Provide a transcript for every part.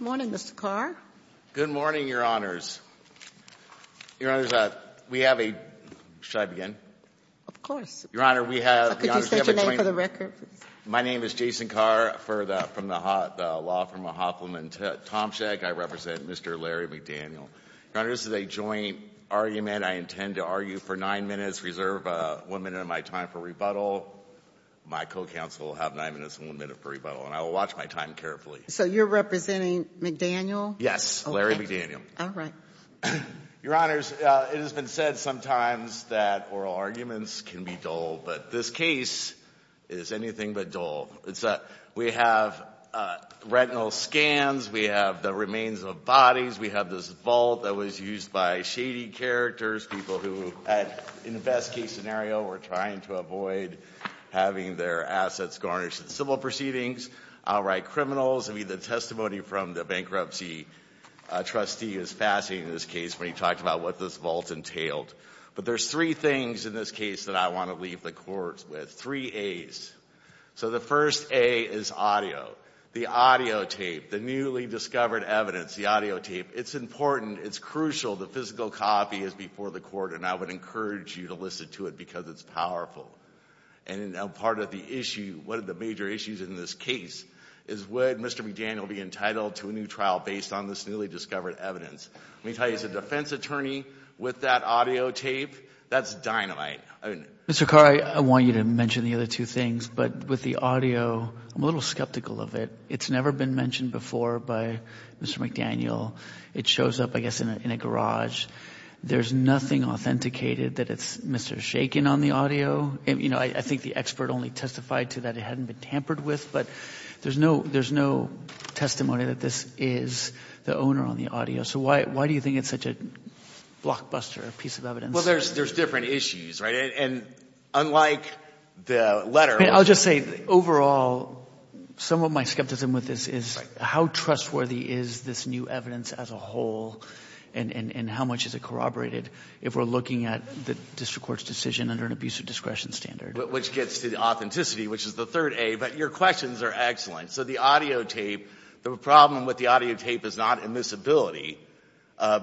Good morning, Mr. Carr. Good morning, Your Honors. Your Honors, we have a—should I begin? Of course. Your Honor, we have—could you state your name for the record, please? My name is Jason Carr from the law firm of Hoffman and Tomczyk. I represent Mr. Larry McDaniel. Your Honors, this is a joint argument. I intend to argue for nine minutes, reserve one minute of my time for rebuttal. My co-counsel will have nine minutes and one minute for rebuttal, and I will watch my time carefully. So you're representing McDaniel? Yes, Larry McDaniel. All right. Your Honors, it has been said sometimes that oral arguments can be dull, but this case is anything but dull. We have retinal scans. We have the remains of bodies. We have this vault that was used by shady characters, people who, in the best case scenario, were trying to avoid having their assets garnished in civil proceedings, outright criminals. I mean, the testimony from the bankruptcy trustee is fascinating in this case when he talked about what this vault entailed. But there's three things in this case that I want to leave the Court with, three A's. So the first A is audio. The audio tape, the newly discovered evidence, the audio tape, it's important, it's crucial, the physical copy is before the Court, and I would encourage you to listen to it because it's powerful. And part of the issue, one of the major issues in this case is would Mr. McDaniel be entitled to a new trial based on this newly discovered evidence? Let me tell you, as a defense attorney, with that audio tape, that's dynamite. Mr. Carr, I want you to mention the other two things, but with the audio, I'm a little skeptical of it. It's up, I guess, in a garage. There's nothing authenticated that it's Mr. Shakin on the audio. I think the expert only testified to that it hadn't been tampered with, but there's no testimony that this is the owner on the audio. So why do you think it's such a blockbuster piece of evidence? Well, there's different issues, right? And unlike the letter... I'll just say, overall, some of my skepticism with this is how trustworthy is this new evidence as a whole, and how much is it corroborated if we're looking at the district court's decision under an abuse of discretion standard? Which gets to the authenticity, which is the third A, but your questions are excellent. So the audio tape, the problem with the audio tape is not immiscibility,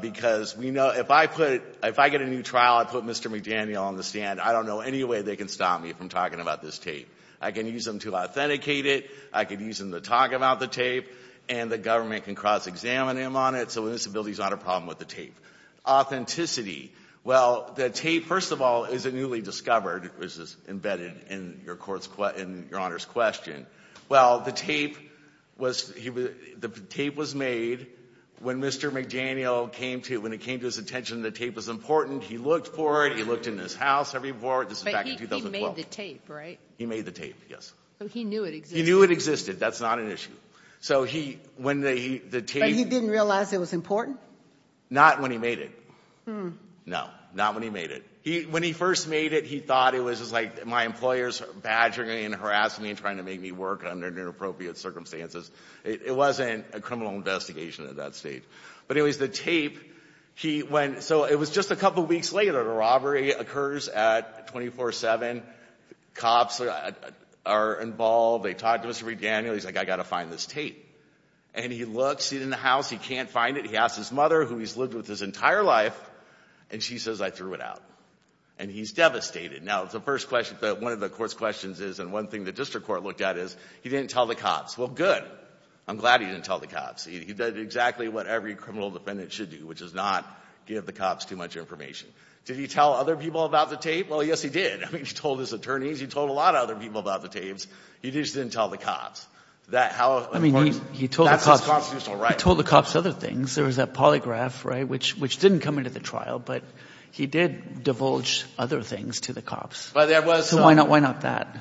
because we know if I put, if I get a new trial, I put Mr. McDaniel on the stand, I don't know any way they can stop me from talking about this tape. I can use them to authenticate it, I can use them, I can cross-examine him on it, so immiscibility is not a problem with the tape. Authenticity. Well, the tape, first of all, is a newly discovered, which is embedded in your Honor's question. Well, the tape was made when Mr. McDaniel came to, when it came to his attention that the tape was important, he looked for it, he looked in his house, everything, this was back in 2012. But he made the tape, right? He made the tape, yes. So he knew it existed. That's not an issue. So he, when the tape... But he didn't realize it was important? Not when he made it. No, not when he made it. When he first made it, he thought it was just like my employers badgering me and harassing me and trying to make me work under inappropriate circumstances. It wasn't a criminal investigation at that stage. But anyways, the tape, he went, so it was just a couple weeks later, the robbery occurs at 24-7, cops are involved, they talk to Mr. McDaniel, he's like, I've got to find this tape. And he looks, he's in the house, he can't find it, he asks his mother, who he's lived with his entire life, and she says I threw it out. And he's devastated. Now, the first question, one of the court's questions is, and one thing the district court looked at is, he didn't tell the cops. Well, good. I'm glad he didn't tell the cops. He did exactly what every criminal defendant should do, which is not give the cops too much information. Did he tell other people about the tape? Well, yes, he did. I mean, he told his attorneys, he told a lot of other people about the tapes, he just didn't tell the cops. That's his constitutional right. He told the cops other things. There was that polygraph, right, which didn't come into the trial, but he did divulge other things to the cops. So why not that?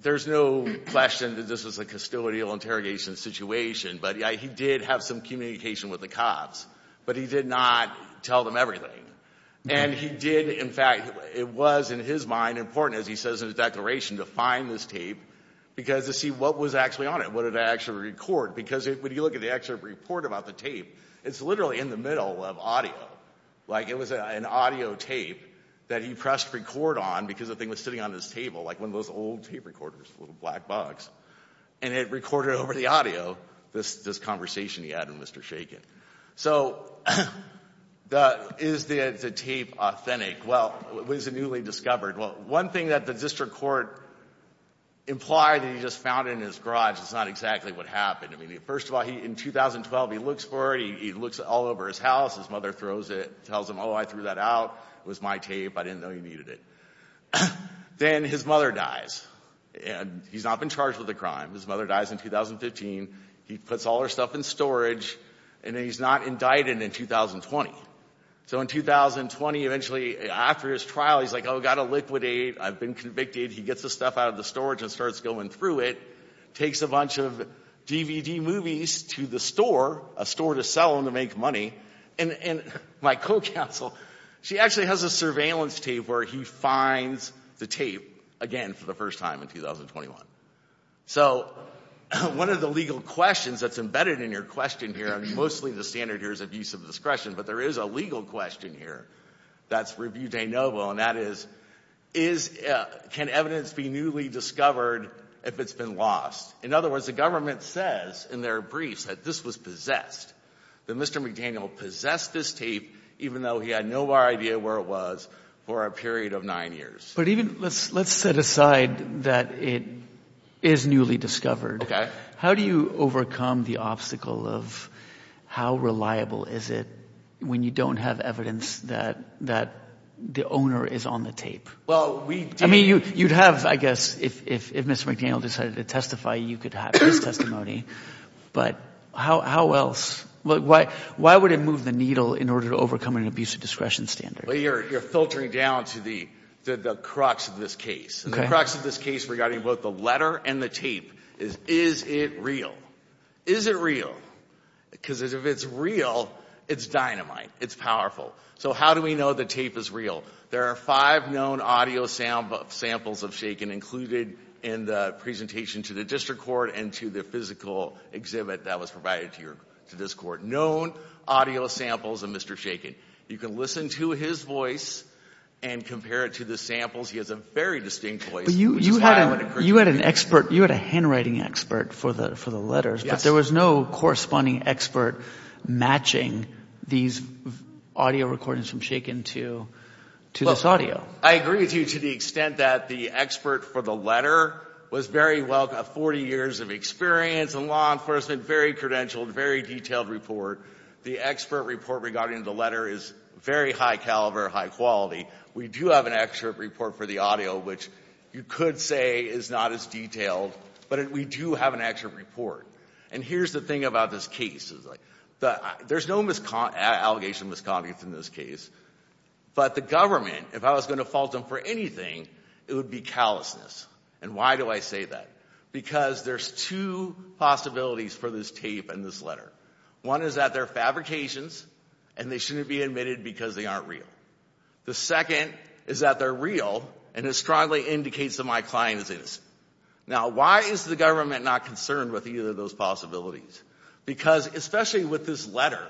There's no question that this was a custodial interrogation situation, but he did have some communication with the cops. But he did not tell them everything. And he did, in fact, it was, in his mind, important, as he says in his declaration, to find this tape because to see what was actually on it, what did it actually record. Because when you look at the actual report about the tape, it's literally in the middle of audio. Like, it was an audio tape that he pressed record on because the thing was sitting on his table, like one of those old tape recorders, little black box. And it recorded over the audio this conversation he had with Mr. Shakin. So is the tape authentic? Well, it was newly discovered. Well, one thing that the district court implied that he just found in his garage is not exactly what happened. I mean, first of all, in 2012, he looks for it. He looks all over his house. His mother throws it, tells him, oh, I threw that out. It was my tape. I didn't know you needed it. Then his mother dies. And he's not been charged with the crime. His mother dies in 2015. He is not indicted in 2020. So in 2020, eventually, after his trial, he's like, oh, got to liquidate. I've been convicted. He gets the stuff out of the storage and starts going through it. Takes a bunch of DVD movies to the store, a store to sell them to make money. And my co-counsel, she actually has a surveillance tape where he finds the tape again for the first time in 2021. So one of the legal questions that's embedded in your question here, I mean, mostly the standard here is abuse of discretion, but there is a legal question here that's review de novo, and that is, can evidence be newly discovered if it's been lost? In other words, the government says in their briefs that this was possessed, that Mr. McDaniel possessed this tape even though he had no idea where it was for a period of nine years. But even let's set aside that it is newly discovered. How do you overcome the obstacle of how reliable is it when you don't have evidence that the owner is on the tape? I mean, you'd have, I guess, if Mr. McDaniel decided to testify, you could have his testimony, but how else? Why would it move the needle in order to overcome an abuse of discretion standard? Well, you're filtering down to the crux of this case. The crux of this case regarding both the letter and the tape is, is it real? Is it real? Because if it's real, it's dynamite. It's powerful. So how do we know the tape is real? There are five known audio samples of shaken included in the presentation to the district court and to the physical exhibit that was provided to this court. Known audio samples of Mr. Shaken. You can listen to his voice and compare it to the samples. He has a very distinct voice, which is why I would encourage you to do that. But you had an expert, you had a handwriting expert for the, for the letters. Yes. But there was no corresponding expert matching these audio recordings from Shaken to, to this audio. Well, I agree with you to the extent that the expert for the letter was very well, 40 years of experience in law enforcement, very credentialed, very detailed report. The expert report regarding the letter is very high caliber, high quality. We do have an expert report for the audio, which you could say is not as detailed, but we do have an expert report. And here's the thing about this case. There's no mis, allegation of misconduct in this case, but the government, if I was going to fault them for anything, it would be callousness. And why do I say that? Because there's two possibilities for this tape and this letter. One is that they're fabrications and they shouldn't be admitted because they aren't real. The second is that they're real and it strongly indicates that my client is innocent. Now why is the government not concerned with either of those possibilities? Because especially with this letter,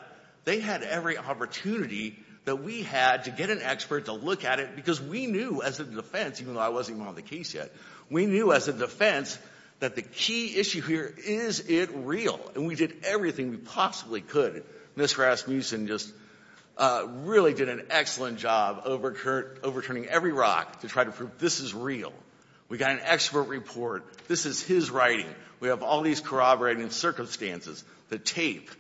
they had every opportunity that we had to get an expert to look at it because we knew as a defense, even though I wasn't even on the case yet, we knew as a defense that the key issue here, is it real? And we did everything we possibly could. Mr. Rasmussen just really did an excellent job overturning every rock to try to prove this is real. We got an expert report. This is his writing. We have all these corroborating circumstances. The tape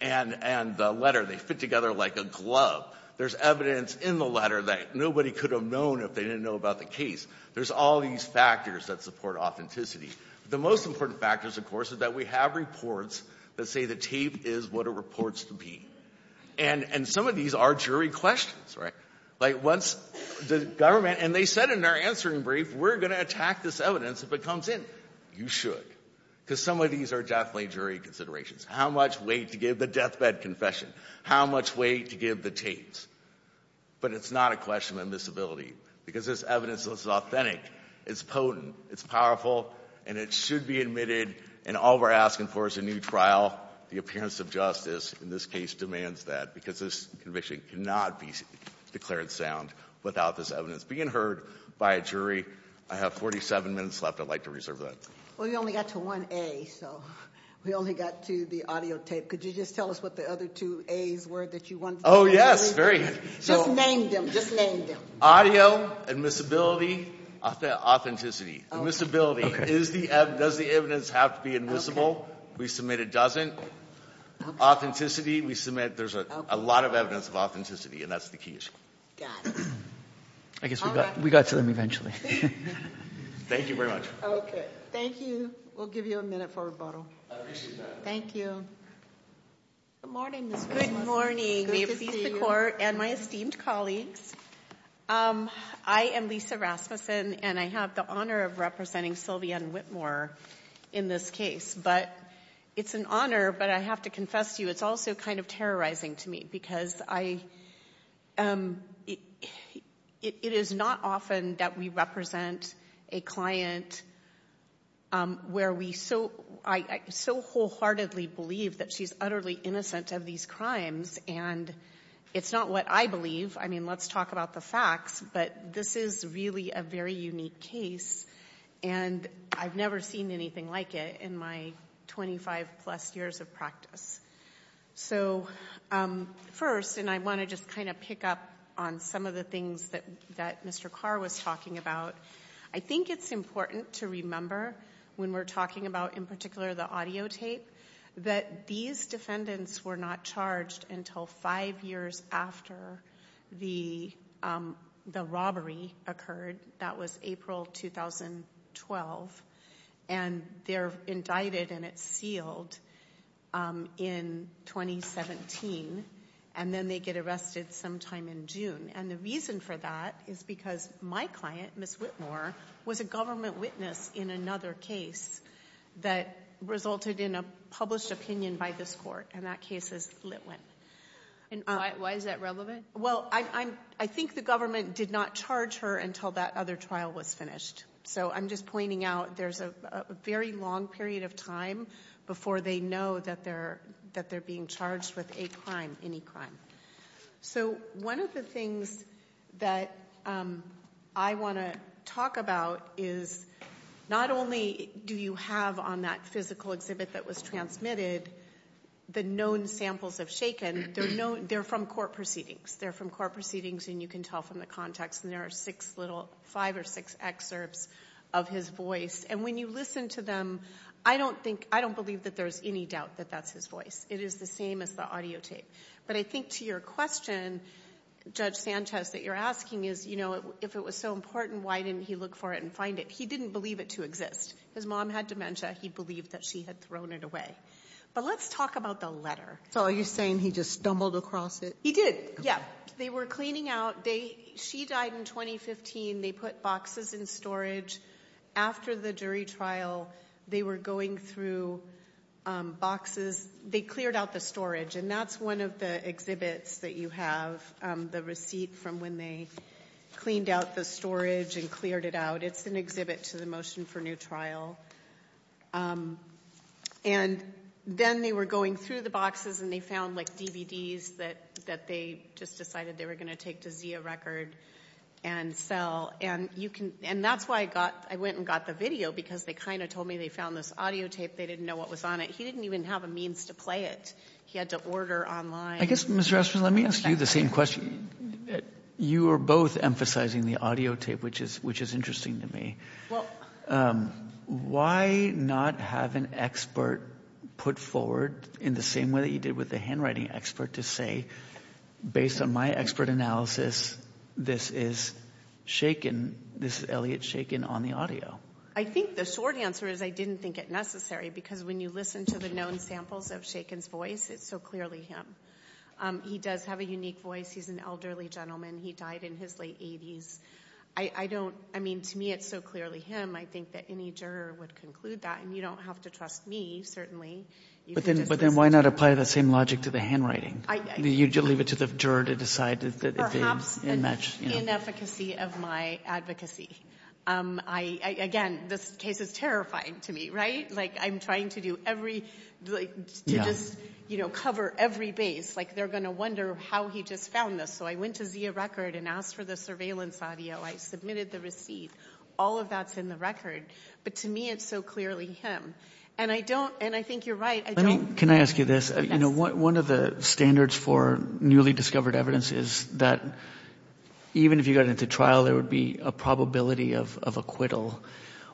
and the letter, they fit together like a glove. There's evidence in the letter that nobody could have known if they didn't know about the case. There's all these factors that support authenticity. The most important factors, of course, is that we have reports that say the tape is what it reports to be. And some of these are jury questions, right? Like once the government, and they said in their answering brief, we're going to attack this evidence if it comes in. You should. Because some of these are definitely jury considerations. How much weight to give the deathbed confession? How much weight to give the tapes? But it's not a question of invisibility because this evidence is authentic It's potent. It's powerful. And it should be admitted. And all we're asking for is a new trial. The appearance of justice in this case demands that. Because this conviction cannot be declared sound without this evidence being heard by a jury. I have 47 minutes left. I'd like to reserve that. Well, you only got to one A, so we only got to the audio tape. Could you just tell us what the other two A's were that you wanted to say? Oh, yes. Very good. Just name them. Just name them. Audio. Admissibility. Authenticity. Admissibility. Does the evidence have to be admissible? We submit it doesn't. Authenticity. We submit there's a lot of evidence of authenticity, and that's the key issue. Got it. I guess we got to them eventually. Thank you very much. Okay. Thank you. We'll give you a minute for rebuttal. I appreciate that. Thank you. Good morning, Mr. McMaster. Good morning. Good to see you. Good to see you. And my esteemed colleagues. I am Lisa Rasmussen, and I have the honor of representing Sylvia Whitmore in this case. But it's an honor, but I have to confess to you, it's also kind of terrorizing to me because it is not often that we represent a client where we so wholeheartedly believe that she's utterly innocent of these crimes. And it's not what I believe. I mean, let's talk about the facts, but this is really a very unique case, and I've never seen anything like it in my 25 plus years of practice. So first, and I want to just kind of pick up on some of the things that Mr. Carr was talking about. I think it's important to remember when we're talking about in particular the audio tape, that these defendants were not charged until five years after the robbery occurred. That was April 2012. And they're indicted and it's sealed in 2017, and then they get arrested sometime in June. And the reason for that is because my client, Ms. Whitmore, was consulted in a published opinion by this court, and that case is lit with. Why is that relevant? Well, I think the government did not charge her until that other trial was finished. So I'm just pointing out there's a very long period of time before they know that they're being charged with a crime, any crime. So one of the things that I want to talk about is not only do you have on that physical exhibit that was transmitted the known samples of Shaken, they're from court proceedings. They're from court proceedings and you can tell from the context, and there are five or six excerpts of his voice. And when you listen to them, I don't believe that there's any doubt that that's his voice. It is the same as the audio tape. But I think to your question, Judge Sanchez, that you're asking is if it was so important, why didn't he look for it and find it? He didn't believe it to exist. His mom had dementia. He believed that she had thrown it away. But let's talk about the letter. So are you saying he just stumbled across it? He did, yeah. They were cleaning out. She died in 2015. They put boxes in storage. After the jury trial, they were going through boxes. They cleared out the storage. And that's one of the exhibits that you have, the receipt from when they cleaned out the storage and cleared it out. It's an exhibit to the motion for new trial. And then they were going through the boxes and they found like DVDs that they just decided they were going to take to see a record and sell. And that's why I went and got the video, because they kind of told me they found this audio tape. They didn't know what was on it. He didn't even have a means to play it. He had to order online. I guess, Ms. Rasmussen, let me ask you the same question. You are both emphasizing the audio tape, which is interesting to me. Why not have an expert put forward in the same way that you did with the handwriting expert to say, based on my expert analysis, this is shaken, this is Elliot shaken on the audio? I think the short answer is I didn't think it necessary, because when you listen to the own samples of shaken's voice, it's so clearly him. He does have a unique voice. He's an elderly gentleman. He died in his late 80s. I don't, I mean, to me it's so clearly him. I think that any juror would conclude that. And you don't have to trust me, certainly. But then why not apply the same logic to the handwriting? You leave it to the juror to decide if they match. Perhaps an inefficacy of my advocacy. Again, this case is terrifying to me, right? Like I'm trying to do every, to just cover every base. Like they're going to wonder how he just found this. So I went to Zia Record and asked for the surveillance audio. I submitted the receipt. All of that's in the record. But to me it's so clearly him. And I don't, and I think you're right. Can I ask you this? You know, one of the standards for newly discovered evidence is that even if you got into trial, there would be a probability of acquittal.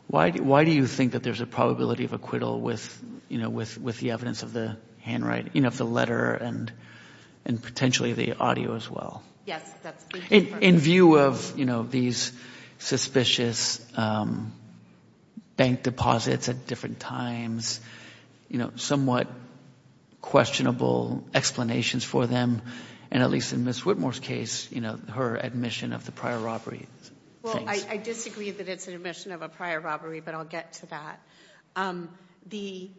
Why do you think that there's a probability of acquittal with, you know, with the evidence of the handwriting, you know, of the letter and potentially the audio as well? Yes. In view of, you know, these suspicious bank deposits at different times, you know, somewhat questionable explanations for them. And at least in Ms. Whitmore's case, you know, her admission of the prior robbery. Well, I disagree that it's an admission of a prior robbery, but I'll get to that. The,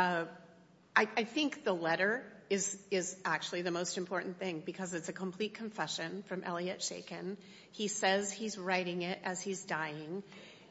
I think the letter is actually the most important thing because it's a complete confession from Elliot Shakin. He says he's writing it as he's dying.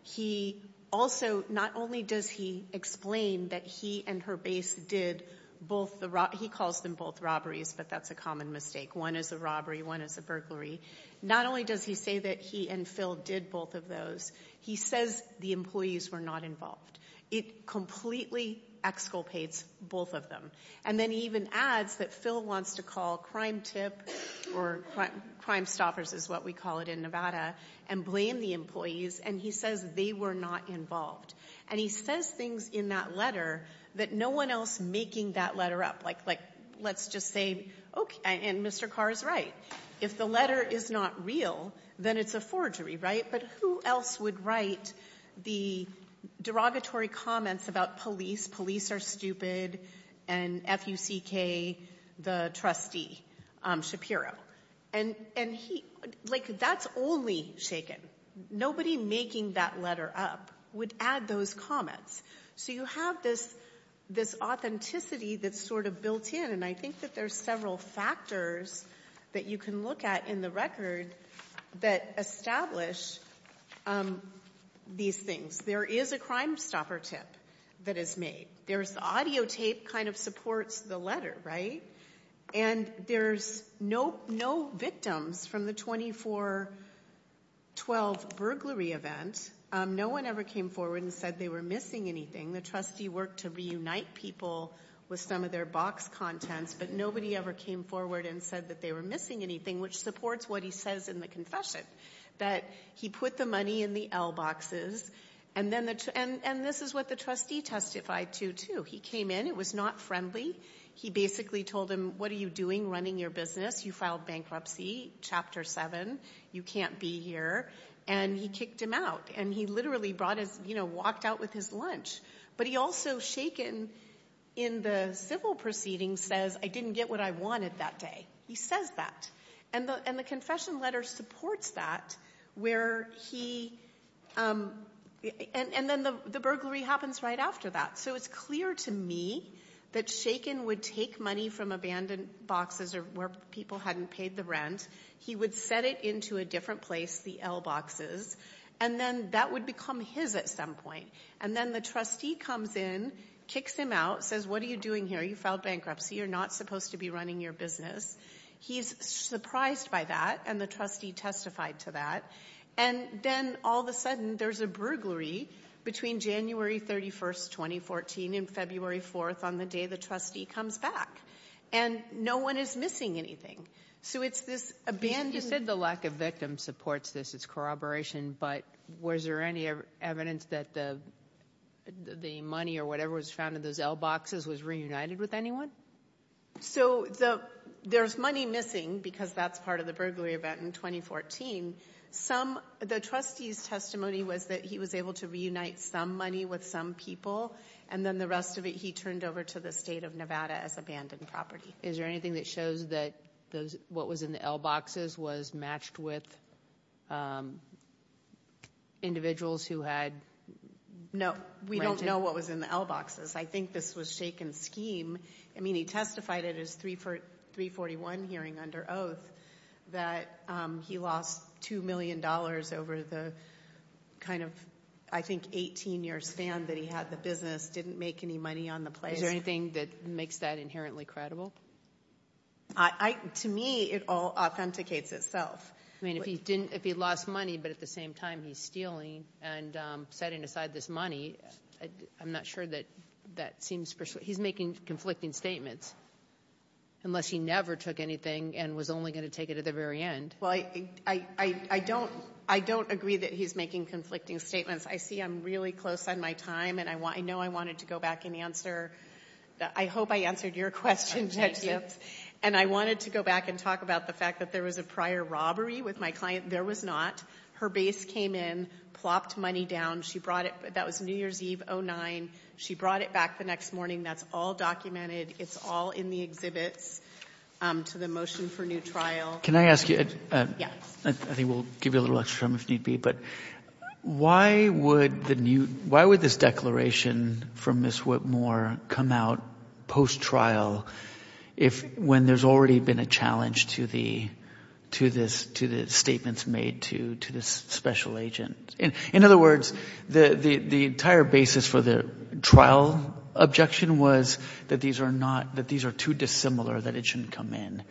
He also, not only does he explain that he and her base did both the, he calls them both robberies, but that's a common mistake. One is a robbery, one is a burglary. Not only does he say that he and Phil did both of those, he says the employees were not involved. It completely exculpates both of them. And then he even adds that Phil wants to call Crime Tip or Crime Stoppers is what we call it in Nevada and blame the employees, and he says they were not involved. And he says things in that letter that no one else making that letter up, like, let's just say, okay, and Mr. Carr is right. If the letter is not real, then it's a forgery, right? But who else would write the derogatory comments about police, police are stupid, and F-U-C-K, the trustee Shapiro. And he, like, that's only Shakin. Nobody making that letter up would add those comments. So you have this authenticity that's sort of built in, and I think that there's several factors that you can look at in the record that establish these things. There is a Crime Stopper tip that is made. There's audio tape kind of supports the letter, right? And there's no victims from the 24-12 burglary event. No one ever came forward and said they were missing anything. The trustee worked to reunite people with some of their box contents, but nobody ever came forward and said that they were missing anything, which supports what he says in the confession, that he put the money in the L-boxes, and this is what the trustee testified to, too. He came in. It was not friendly. He basically told him, what are you doing running your business? You filed bankruptcy, Chapter 7. You can't be here, and he kicked him out, and he literally walked out with his lunch. But he also, Shakin, in the civil proceedings says, I didn't get what I wanted that day. He says that, and the confession letter supports that, and then the burglary happens right after that. So it's clear to me that Shakin would take money from abandoned boxes or where people hadn't paid the rent. He would set it into a different place, the L-boxes, and then that would become his at some point, and then the trustee comes in, kicks him out, says, what are you doing here? You filed bankruptcy. You're not supposed to be running your business. He's surprised by that, and the trustee testified to that, and then all of a sudden, there's a burglary between January 31st, 2014 and February 4th on the day the trustee comes back, and no one is missing anything. So it's this abandoned... You said the lack of victim supports this. It's corroboration, but was there any evidence that the money or whatever was found in those L-boxes was reunited with anyone? So there's money missing because that's part of the burglary event in 2014. The trustee's testimony was that he was able to reunite some money with some people, and then the rest of it, he turned over to the state of Nevada as abandoned property. Is there anything that shows that what was in the L-boxes was matched with individuals who had... No. We don't know what was in the L-boxes. I think this was shaken scheme. I mean, he testified at his 341 hearing under oath that he lost $2 million over the kind of, I think, 18-year span that he had the business, didn't make any money on the place. Is there anything that makes that inherently credible? To me, it all authenticates itself. I mean, if he lost money, but at the same time he's stealing and setting aside this money, I'm not sure that that seems persuasive. He's making conflicting statements, unless he never took anything and was only going to take it at the very end. I don't agree that he's making conflicting statements. I see I'm really close on my time, and I know I wanted to go back and answer... I hope I answered your question, Judge Gibbs. I wanted to go back and talk about the fact that there was a prior robbery with my client. There was not. Her base came in, plopped money down. That was New Year's Eve, 2009. She brought it back the next morning. That's all documented. It's all in the exhibits to the motion for new trial. Can I ask you... Yes. I think we'll give you a little extra time if need be, but why would this declaration from Ms. Whitmore come out post-trial when there's already been a challenge to the statements made to this special agent? In other words, the entire basis for the trial objection was that these are too dissimilar, that it shouldn't come in.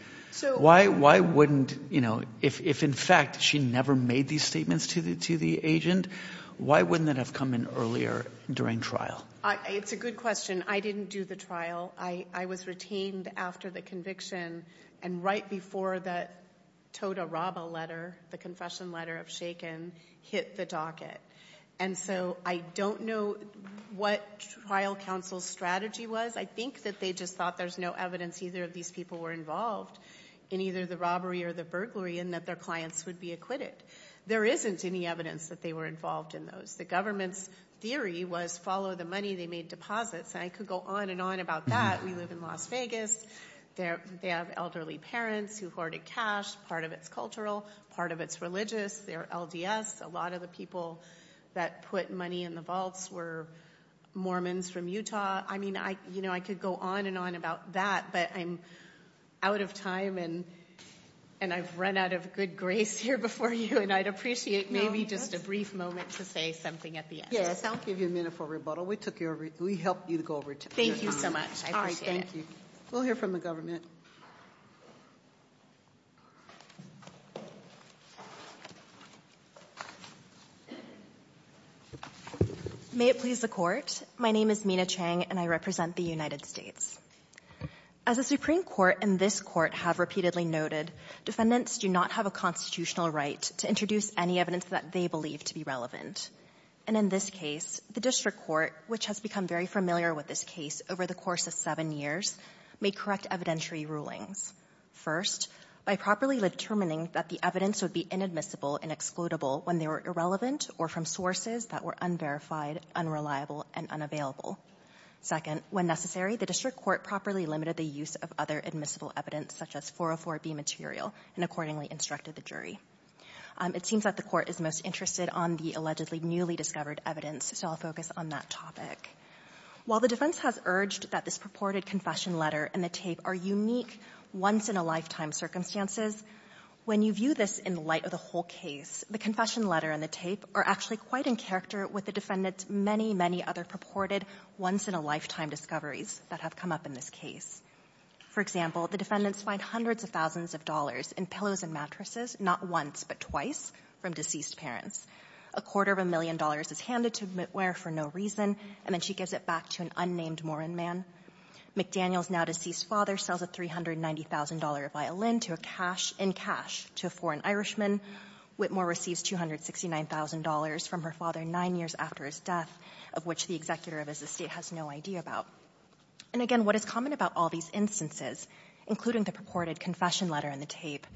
Why wouldn't... If, in fact, she never made these statements to the agent, why wouldn't it have come in earlier during trial? It's a good question. I didn't do the trial. I was retained after the conviction, and right before the tota roba letter, the confession letter of Shakin, hit the docket. I don't know what trial counsel's strategy was. I think that they just thought there's no evidence either of these people were involved in either the robbery or the burglary, and that their clients would be acquitted. There isn't any evidence that they were involved in those. The government's theory was follow the money they made deposits, and I could go on and on about that. We live in Las Vegas. They have elderly parents who hoarded cash, part of it's cultural, part of it's religious. They're LDS. A lot of the people that put money in the vaults were Mormons from Utah. I could go on and on about that, but I'm out of time, and I've run out of good grace here before you, and I'd appreciate maybe just a brief moment to say something at the end. Yes, I'll give you a minute for rebuttal. We took your... We helped you to go over to your... Thank you so much. I appreciate it. We'll hear from the government. May it please the Court. My name is Mina Chang, and I represent the United States. As the Supreme Court and this Court have repeatedly noted, defendants do not have a constitutional right to introduce any evidence that they believe to be relevant. And in this case, the district court, which has become very familiar with this case over the course of seven years, may correct evidentiary rulings. First, by properly determining that the evidence would be inadmissible and excludable when they were irrelevant or from sources that were unverified, unreliable, and unavailable. Second, when necessary, the district court properly limited the use of other admissible evidence, such as 404B material, and accordingly instructed the jury. It seems that the court is most interested on the allegedly newly discovered evidence, so I'll focus on that topic. While the defense has urged that this purported confession letter and the tape are unique, once-in-a-lifetime circumstances, when you view this in the light of the whole case, the confession letter and the tape are actually quite in character with the defendant's many, many other purported once-in-a-lifetime discoveries that have come up in this case. For example, the defendants find hundreds of thousands of dollars in pillows and mattresses, not once but twice, from deceased parents. A quarter of a million dollars is handed to Mitt Ware for no reason, and then she gives it back to an unnamed Moran man. McDaniel's now-deceased father sells a $390,000 violin in cash to a foreign Irishman. Whitmore receives $269,000 from her father nine years after his death, of which the executor of his estate has no idea about. And again, what is common about all these instances, including the purported confession letter and the tape,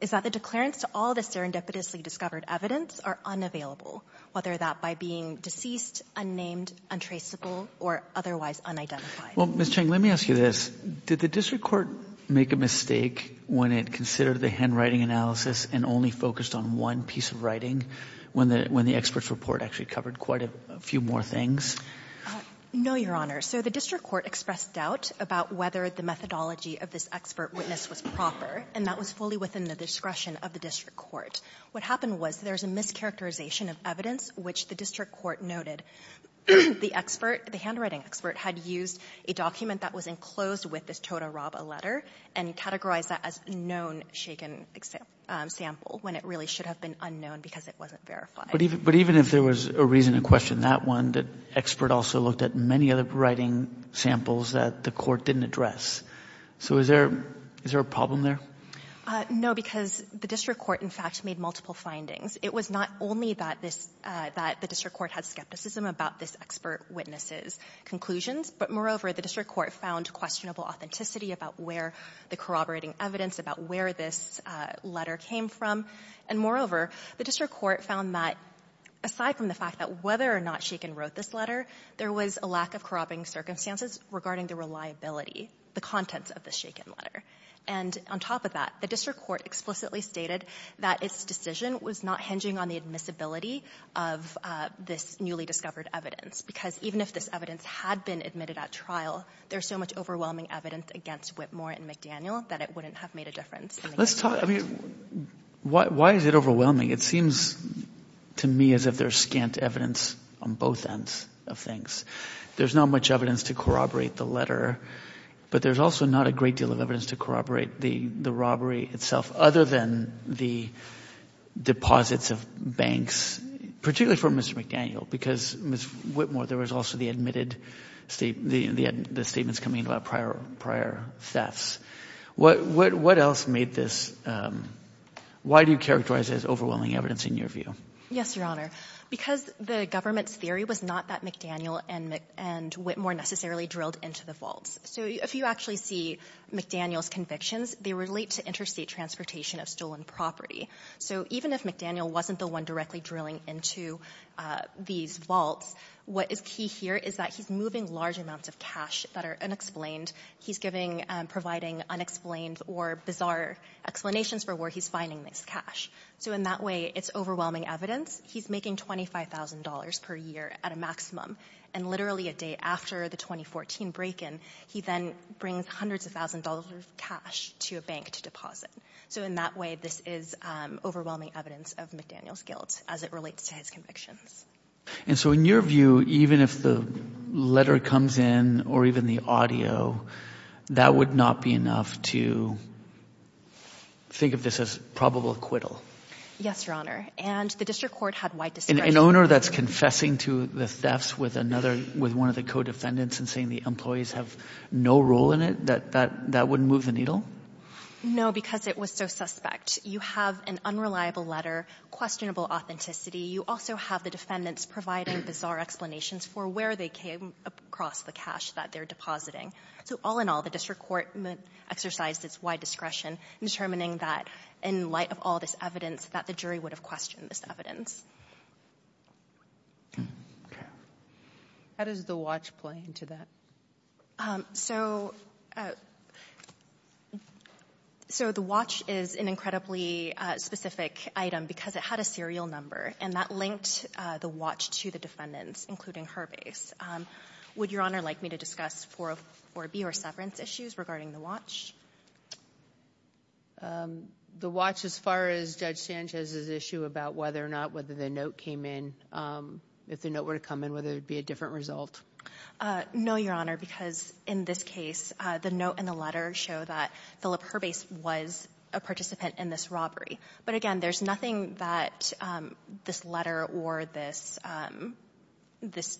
is that the declarants to all the serendipitously discovered evidence are unavailable, whether that by being deceased, unnamed, untraceable, or otherwise unidentified. Well, Ms. Cheng, let me ask you this. Did the district court make a mistake when it considered the handwriting analysis and only focused on one piece of writing, when the expert's report actually covered quite a few more things? No, Your Honor. So the district court expressed doubt about whether the methodology of this expert witness was proper, and that was fully within the discretion of the district court. What happened was there's a mischaracterization of evidence which the district court noted. The expert, the handwriting expert, had used a document that was enclosed with this Toda Raba letter and categorized that as a known shaken sample, when it really should have been unknown because it wasn't verified. But even if there was a reason to question that one, the expert also looked at many other writing samples that the court didn't address. So is there a problem there? No, because the district court, in fact, made multiple findings. It was not only that this, that the district court had skepticism about this expert witness's conclusions, but moreover, the district court found questionable authenticity about where the corroborating evidence, about where this letter came from. And moreover, the district court found that aside from the fact that whether or not Shakin wrote this letter, there was a lack of corroborating circumstances regarding the reliability, the contents of the Shakin letter. And on top of that, the district court explicitly stated that its decision was not hinging on the admissibility of this newly discovered evidence, because even if this evidence had been admitted at trial, there's so much overwhelming evidence against Whitmore and McDaniel that it wouldn't have made a difference. Let's talk, I mean, why is it overwhelming? It seems to me as if there's scant evidence on both ends of things. There's not much evidence to corroborate the letter, but there's also not a great deal of evidence to corroborate the robbery itself, other than the deposits of banks, particularly from Mr. McDaniel, because, Ms. Whitmore, there was also the admitted, the statements coming in about prior thefts. What else made this, why do you characterize this as overwhelming evidence in your view? Yes, Your Honor. Because the government's theory was not that McDaniel and Whitmore necessarily drilled into the vaults. So if you actually see McDaniel's convictions, they relate to interstate transportation of stolen property. So even if McDaniel wasn't the one directly drilling into these vaults, what is key here is that he's moving large amounts of cash that are unexplained. He's giving, providing unexplained or bizarre explanations for where he's finding this cash. So in that way, it's overwhelming evidence. He's making $25,000 per year at a maximum. And literally a day after the 2014 break-in, he then brings hundreds of thousands of dollars of cash to a bank to deposit. So in that way, this is overwhelming evidence of McDaniel's guilt as it relates to his convictions. And so in your view, even if the letter comes in or even the audio, that would not be enough to think of this as probable acquittal? Yes, Your Honor. And the district court had wide discretion. An owner that's confessing to the thefts with another, with one of the co-defendants and saying the employees have no role in it, that wouldn't move the needle? No, because it was so suspect. You have an unreliable letter, questionable authenticity. You also have the defendants providing bizarre explanations for where they came across the cash that they're depositing. So all in all, the district court exercised its wide discretion in determining that in light of all this evidence, that the jury would have questioned this evidence. How does the watch play into that? So the watch is an incredibly specific item because it had a serial number, and that linked the watch to the defendants, including her base. Would Your Honor like me to discuss 404B or severance issues regarding the watch? The watch as far as Judge Sanchez's issue about whether or not, whether the note came in, if the note were to come in, whether it would be a different result? No, Your Honor, because in this case, the note and the letter show that Philip, her base was a participant in this robbery. But again, there's nothing that this letter or this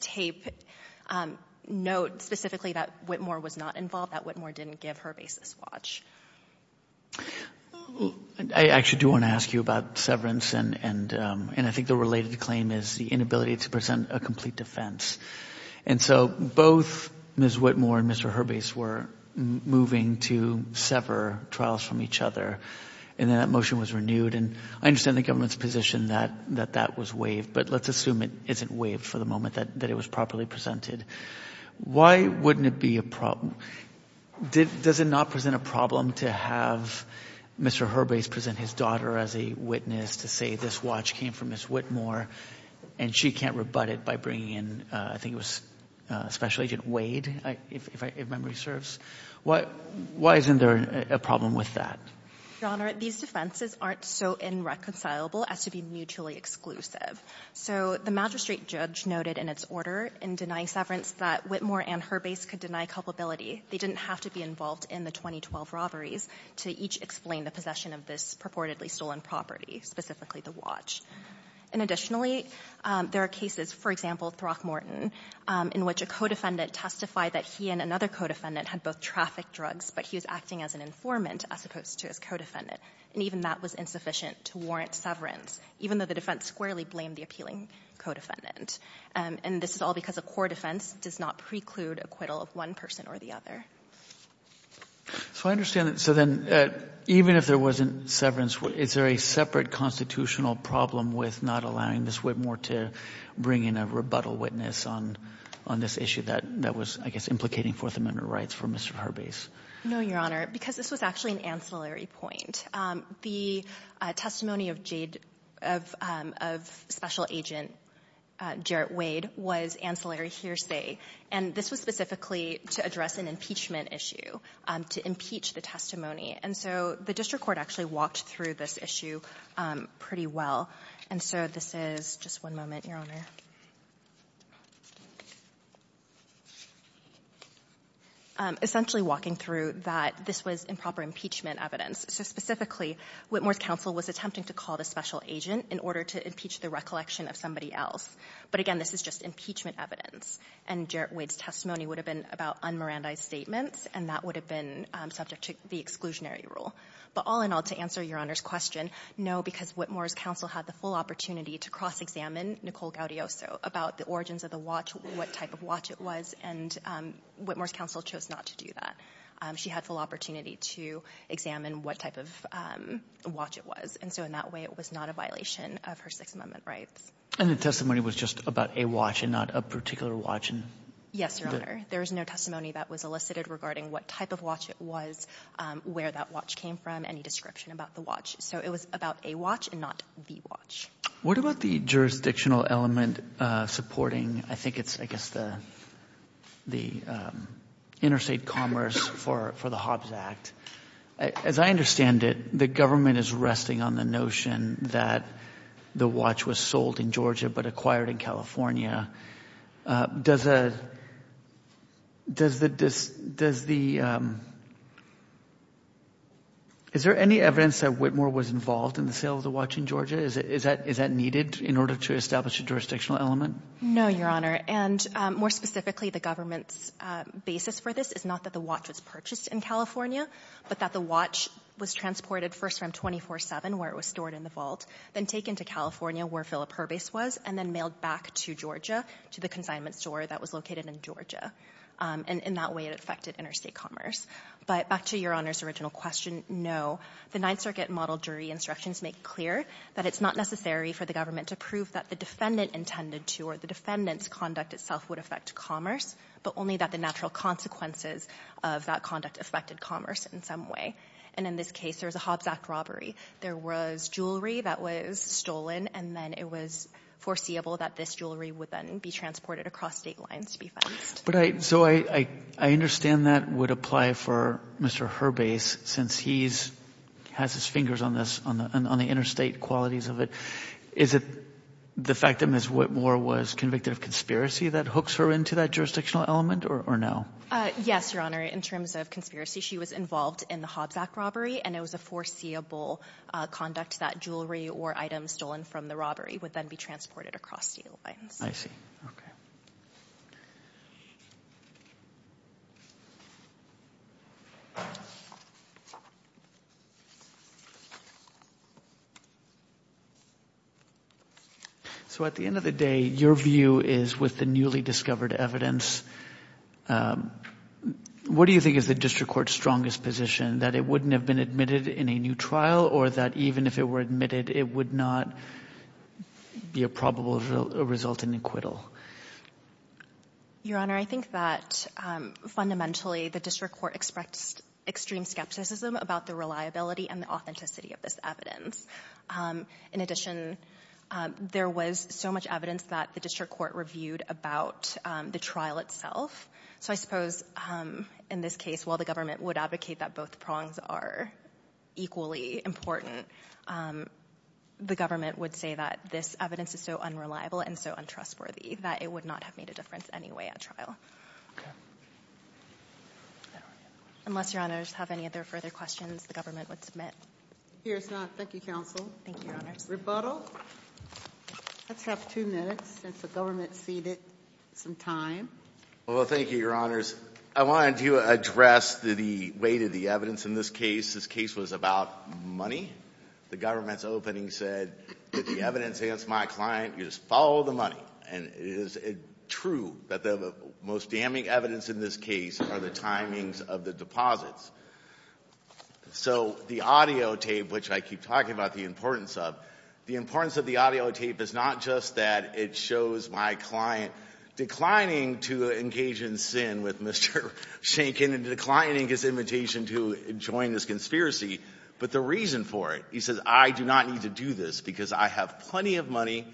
tape notes specifically that Whitmore was not involved, that Whitmore didn't give her base this watch. I actually do want to ask you about severance, and I think the related claim is the inability to present a complete defense. So both Ms. Whitmore and Mr. Her base were moving to sever trials from each other, and then that motion was renewed. I understand the government's position that that was waived, but let's assume it isn't waived for the moment, that it was properly presented. Why wouldn't it be a problem? Does it not present a problem to have Mr. Her base present his daughter as a witness to say, this watch came from Ms. Whitmore, and she can't rebut it by bringing in, I think it was Special Agent Wade, if memory serves? Why isn't there a problem with that? Your Honor, these defenses aren't so irreconcilable as to be mutually exclusive. So the magistrate judge noted in its order in denying severance that Whitmore and her base could deny culpability. They didn't have to be involved in the 2012 robberies to each explain the possession of this purportedly stolen property, specifically the watch. And additionally, there are cases, for example, Throckmorton, in which a co-defendant testified that he and another co-defendant had both trafficked drugs, but he was acting as an co-defendant. And even that was insufficient to warrant severance, even though the defense squarely blamed the appealing co-defendant. And this is all because a core defense does not preclude acquittal of one person or the other. So I understand that, so then, even if there wasn't severance, is there a separate constitutional problem with not allowing Ms. Whitmore to bring in a rebuttal witness on this issue that was, I guess, implicating Fourth Amendment rights for Mr. Her base? No, Your Honor, because this was actually an ancillary point. The testimony of Special Agent Jarrett Wade was ancillary hearsay, and this was specifically to address an impeachment issue, to impeach the testimony. And so the district court actually walked through this issue pretty well. And so this is, just one moment, Your Honor. Essentially walking through that this was improper impeachment evidence. So specifically, Whitmore's counsel was attempting to call the Special Agent in order to impeach the recollection of somebody else. But again, this is just impeachment evidence. And Jarrett Wade's testimony would have been about un-Mirandized statements, and that would have been subject to the exclusionary rule. But all in all, to answer Your Honor's question, no, because Whitmore's counsel had the full opportunity to cross-examine Nicole Gaudioso about the origins of the watch, what type of watch it was, and Whitmore's counsel chose not to do that. She had full opportunity to examine what type of watch it was. And so in that way, it was not a violation of her Sixth Amendment rights. And the testimony was just about a watch and not a particular watch? Yes, Your Honor. There is no testimony that was elicited regarding what type of watch it was, where that watch came from, any description about the watch. So it was about a watch and not the watch. What about the jurisdictional element supporting, I think it's, I guess, the Interstate Commerce for the Hobbs Act? As I understand it, the government is resting on the notion that the watch was sold in Georgia but acquired in California. Does the, is there any evidence that Whitmore was involved in the sale of the watch in Georgia? Is that, is that needed in order to establish a jurisdictional element? No, Your Honor. And more specifically, the government's basis for this is not that the watch was purchased in California, but that the watch was transported first from 24-7, where it was stored in the vault, then taken to California, where Philip Herbace was, and then mailed back to Georgia, to the consignment store that was located in Georgia. And in that way, it affected interstate commerce. But back to Your Honor's original question, no. The Ninth Circuit model jury instructions make clear that it's not necessary for the government to prove that the defendant intended to or the defendant's conduct itself would affect commerce, but only that the natural consequences of that conduct affected commerce in some way. And in this case, there was a Hobbs Act robbery. There was jewelry that was stolen, and then it was foreseeable that this jewelry would then be transported across State lines to be fenced. But I so I I understand that would apply for Mr. Herbace, since he's has his fingers on this on the on the interstate qualities of it. Is it the fact that Ms. Whitmore was convicted of conspiracy that hooks her into that jurisdictional element or or no? Yes, Your Honor. In terms of conspiracy, she was involved in the Hobbs Act robbery, and it was a foreseeable conduct that jewelry or items stolen from the robbery would then be transported across State lines. I see. OK. So at the end of the day, your view is with the newly discovered evidence. What do you think is the district court's strongest position that it wouldn't have been admitted in a new trial or that even if it were admitted, it would not be a probable result in acquittal? Your Honor, I think that fundamentally, the district court expects extreme skepticism about the reliability and the authenticity of this evidence. In addition, there was so much evidence that the district court reviewed about the trial itself. So I suppose in this case, while the government would advocate that both prongs are equally important, the government would say that this evidence is so unreliable and so untrustworthy that it would not have made a difference anyway at trial. Unless your honors have any other further questions, the government would submit. Here's not. Thank you, counsel. Thank you, Your Honor's rebuttal. Let's have two minutes since the government ceded some time. Well, thank you, Your Honors. I wanted to address the weight of the evidence in this case. This case was about money. The government's opening said that the client, you just follow the money. And it is true that the most damning evidence in this case are the timings of the deposits. So the audio tape, which I keep talking about the importance of, the importance of the audio tape is not just that it shows my client declining to engage in sin with Mr. Schenken and declining his invitation to join this conspiracy. But the reason for it, he says, I do not need to do this because I have plenty of money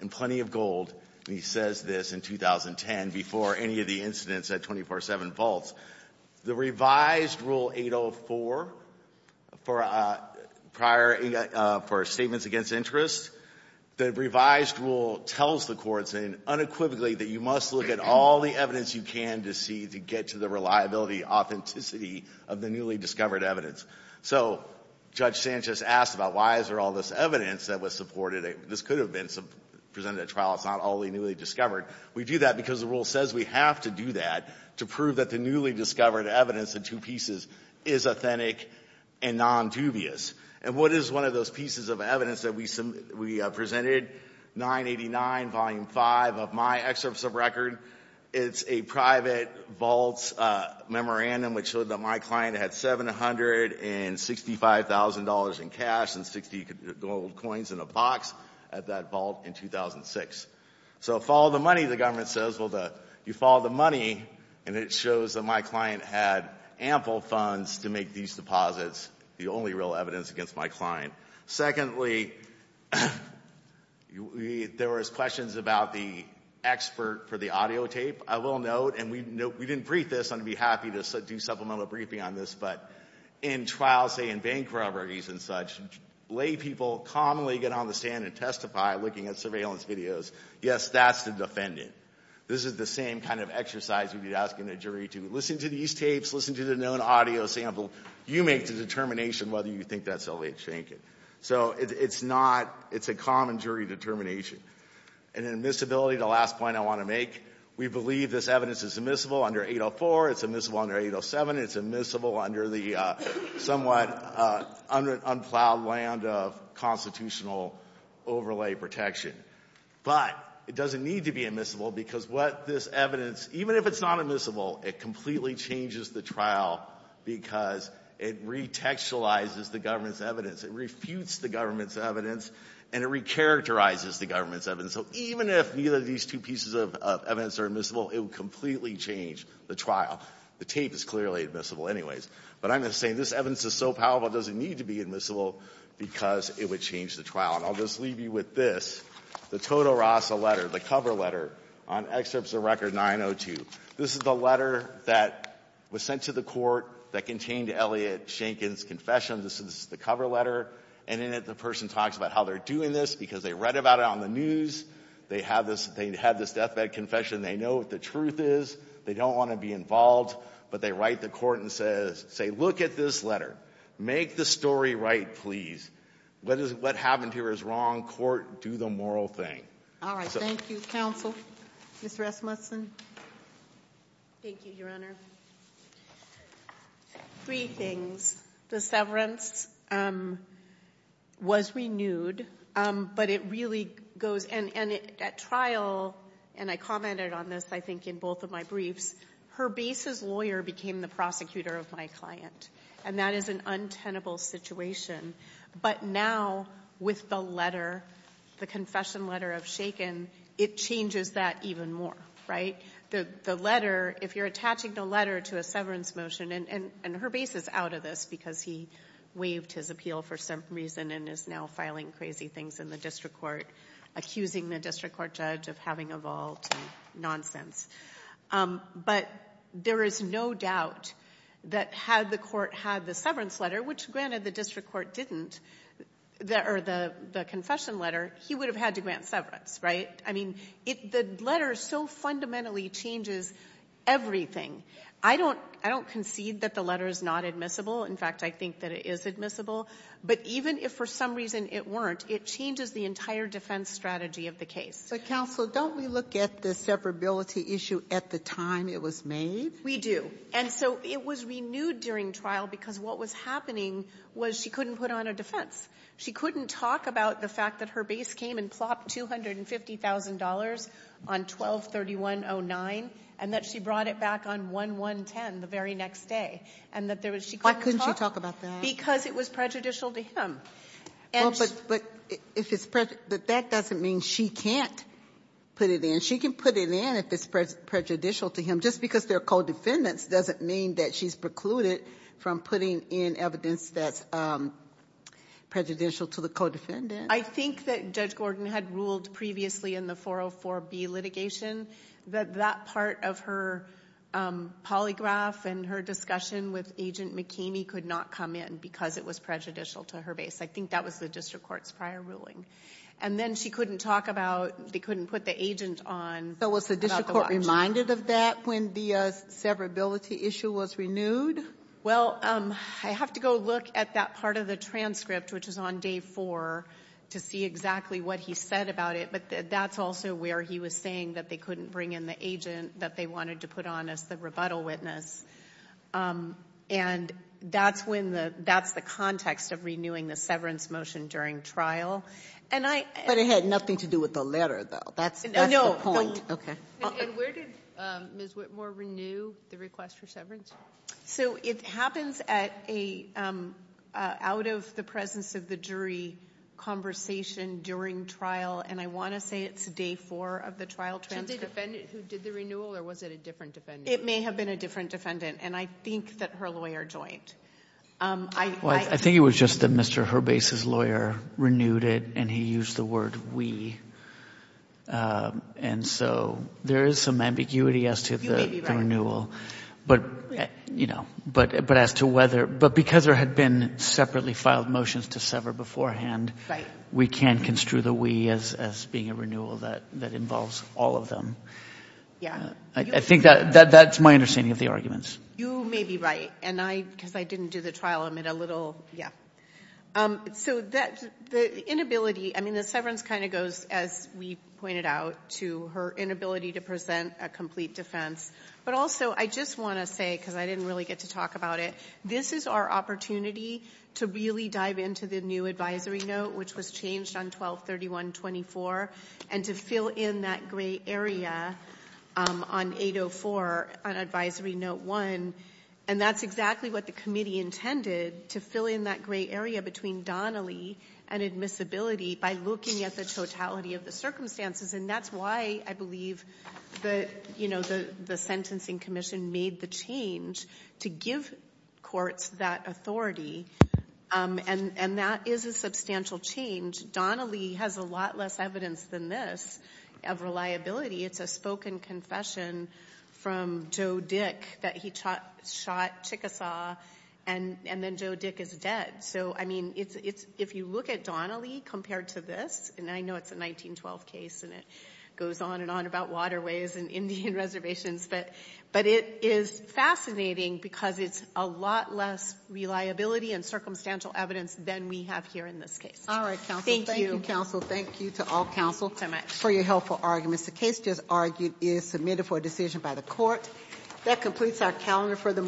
and plenty of gold. And he says this in 2010 before any of the incidents at 24-7 vaults, the revised rule 804 for prior for statements against interest, the revised rule tells the courts unequivocally that you must look at all the evidence you can to see to get to the reliability, authenticity of the newly discovered evidence. So Judge Sanchez asked about why is there all this evidence that was supported? This could have been presented at trial. It's not all the newly discovered. We do that because the rule says we have to do that to prove that the newly discovered evidence in two pieces is authentic and non-dubious. And what is one of those pieces of evidence that we presented? 989, volume five of my excerpts of record. It's a private vaults memorandum which showed that my client had $765,000 in cash and 60 gold coins in a box at that vault in 2006. So follow the money, the government says. Well, you follow the money and it shows that my client had ample funds to make these deposits. The only real evidence against my client. Secondly, there was questions about the expert for the audio tape. I will note, and we didn't brief this. I'm going to be happy to do supplemental briefing on this, but in trials, say in bank robberies and such, lay people commonly get on the stand and testify looking at surveillance videos. Yes, that's the defendant. This is the same kind of exercise you'd be asking a jury to. Listen to these tapes, listen to the known audio sample. You make the determination whether you think that's Eliot Schenken. So it's not, it's a common jury determination. And admissibility, the last point I want to make, we believe this evidence is admissible under 804, it's admissible under 807, it's admissible under the somewhat unplowed land of constitutional overlay protection. But it doesn't need to be admissible because what this evidence, even if it's not admissible, it completely changes the trial because it retextualizes the government's evidence. It refutes the government's evidence and it recharacterizes the government's evidence. So even if neither of these two pieces of evidence are admissible, it would completely change the trial. The tape is clearly admissible anyways. But I'm just saying this evidence is so powerful, it doesn't need to be admissible because it would change the trial. And I'll just leave you with this, the Toto Rasa letter, the cover letter on excerpts of Record 902. This is the letter that was sent to the court that contained Eliot Schenken's confession. This is the cover letter. And in it, the person talks about how they're doing this because they read about it on the news. They have this, they had this deathbed confession. They know what the truth is. They don't want to be involved. But they write the court and say, look at this letter. Make the story right, please. What happened here is wrong. Court, do the moral thing. All right. Thank you. Counsel? Ms. Rasmussen? Thank you, Your Honor. Three things. The severance was renewed. But it really goes and at trial, and I commented on this I think in both of my briefs, Herbace's lawyer became the prosecutor of my client. And that is an untenable situation. But now, with the letter, the confession letter of Schenken, it changes that even more, right? The letter, if you're attaching the letter to a severance motion, and Herbace is out of this because he waived his appeal for some reason and is now filing crazy things in the district court, accusing the district court judge of having a vault and nonsense. But there is no doubt that had the court had the severance letter, which granted the district court didn't, or the confession letter, he would have had to grant severance, right? I mean, the letter so fundamentally changes everything. I don't concede that the letter is not admissible. In fact, I think that it is admissible. But even if for some reason it weren't, it changes the entire defense strategy of the case. But counsel, don't we look at the severability issue at the time it was made? We do. And so it was renewed during trial because what was happening was she couldn't put on a defense. She couldn't talk about the fact that Herbace came and plopped $250,000 on 12-3109, and that she brought it back on 1-110 the very next day. And that there was she couldn't talk... Why couldn't she talk about that? Because it was prejudicial to him. But that doesn't mean she can't put it in. She can put it in if it's prejudicial to him. Just because they're co-defendants doesn't mean that she's precluded from putting in evidence that's prejudicial to the co-defendant. I think that Judge Gordon had ruled previously in the 404B litigation that that part of her polygraph and her discussion with Agent McKamey could not come in because it was prejudicial to Herbace. I think that was the district court's prior ruling. And then she couldn't talk about... They couldn't put the agent on... So was the district court reminded of that when the severability issue was renewed? Well, I have to go look at that part of the transcript, which is on day four, to see exactly what he said about it. But that's also where he was saying that they couldn't bring in the agent that they wanted to put on as the rebuttal witness. And that's the context of renewing the severance motion during trial. But it had nothing to do with the letter, though. That's the point. No. And where did Ms. Whitmore renew the request for severance? So it happens out of the presence of the jury conversation during trial. And I want to say it's day four of the trial transcript. Was it a defendant who did the renewal, or was it a different defendant? It may have been a different defendant. And I think that her lawyer joined. I think it was just that Mr. Herbace's lawyer renewed it, and he used the word we. And so there is some ambiguity as to the renewal. You may be right. But as to whether... But because there had been separately filed motions to sever beforehand, we can't construe the we as being a renewal that involves all of them. I think that's my understanding of the arguments. You may be right. And I, because I didn't do the trial, I'm at a little... Yeah. So the inability... I mean, the severance kind of goes, as we pointed out, to her inability to present a complete defense. But also, I just want to say, because I didn't really get to talk about it, this is our opportunity to really dive into the new advisory note, which was changed on 12-31-24, and to fill in that gray area on 8-04, on advisory note one. And that's exactly what the committee intended, to fill in that gray area between Donnelly and admissibility by looking at the totality of the circumstances. And that's why I believe the sentencing commission made the change to give courts that authority. And that is a substantial change. Donnelly has a lot less evidence than this of reliability. It's a spoken confession from Joe Dick that he shot Chickasaw, and then Joe Dick is dead. So, I mean, if you look at Donnelly compared to this, and I know it's a 1912 case and it goes on and on about waterways and Indian reservations, but it is fascinating because it's a lot less reliability and circumstantial evidence than we have here in this case. All right, counsel. Thank you. Thank you, counsel. Thank you to all counsel for your helpful arguments. The case just argued is submitted for a decision by the court. That completes our calendar for the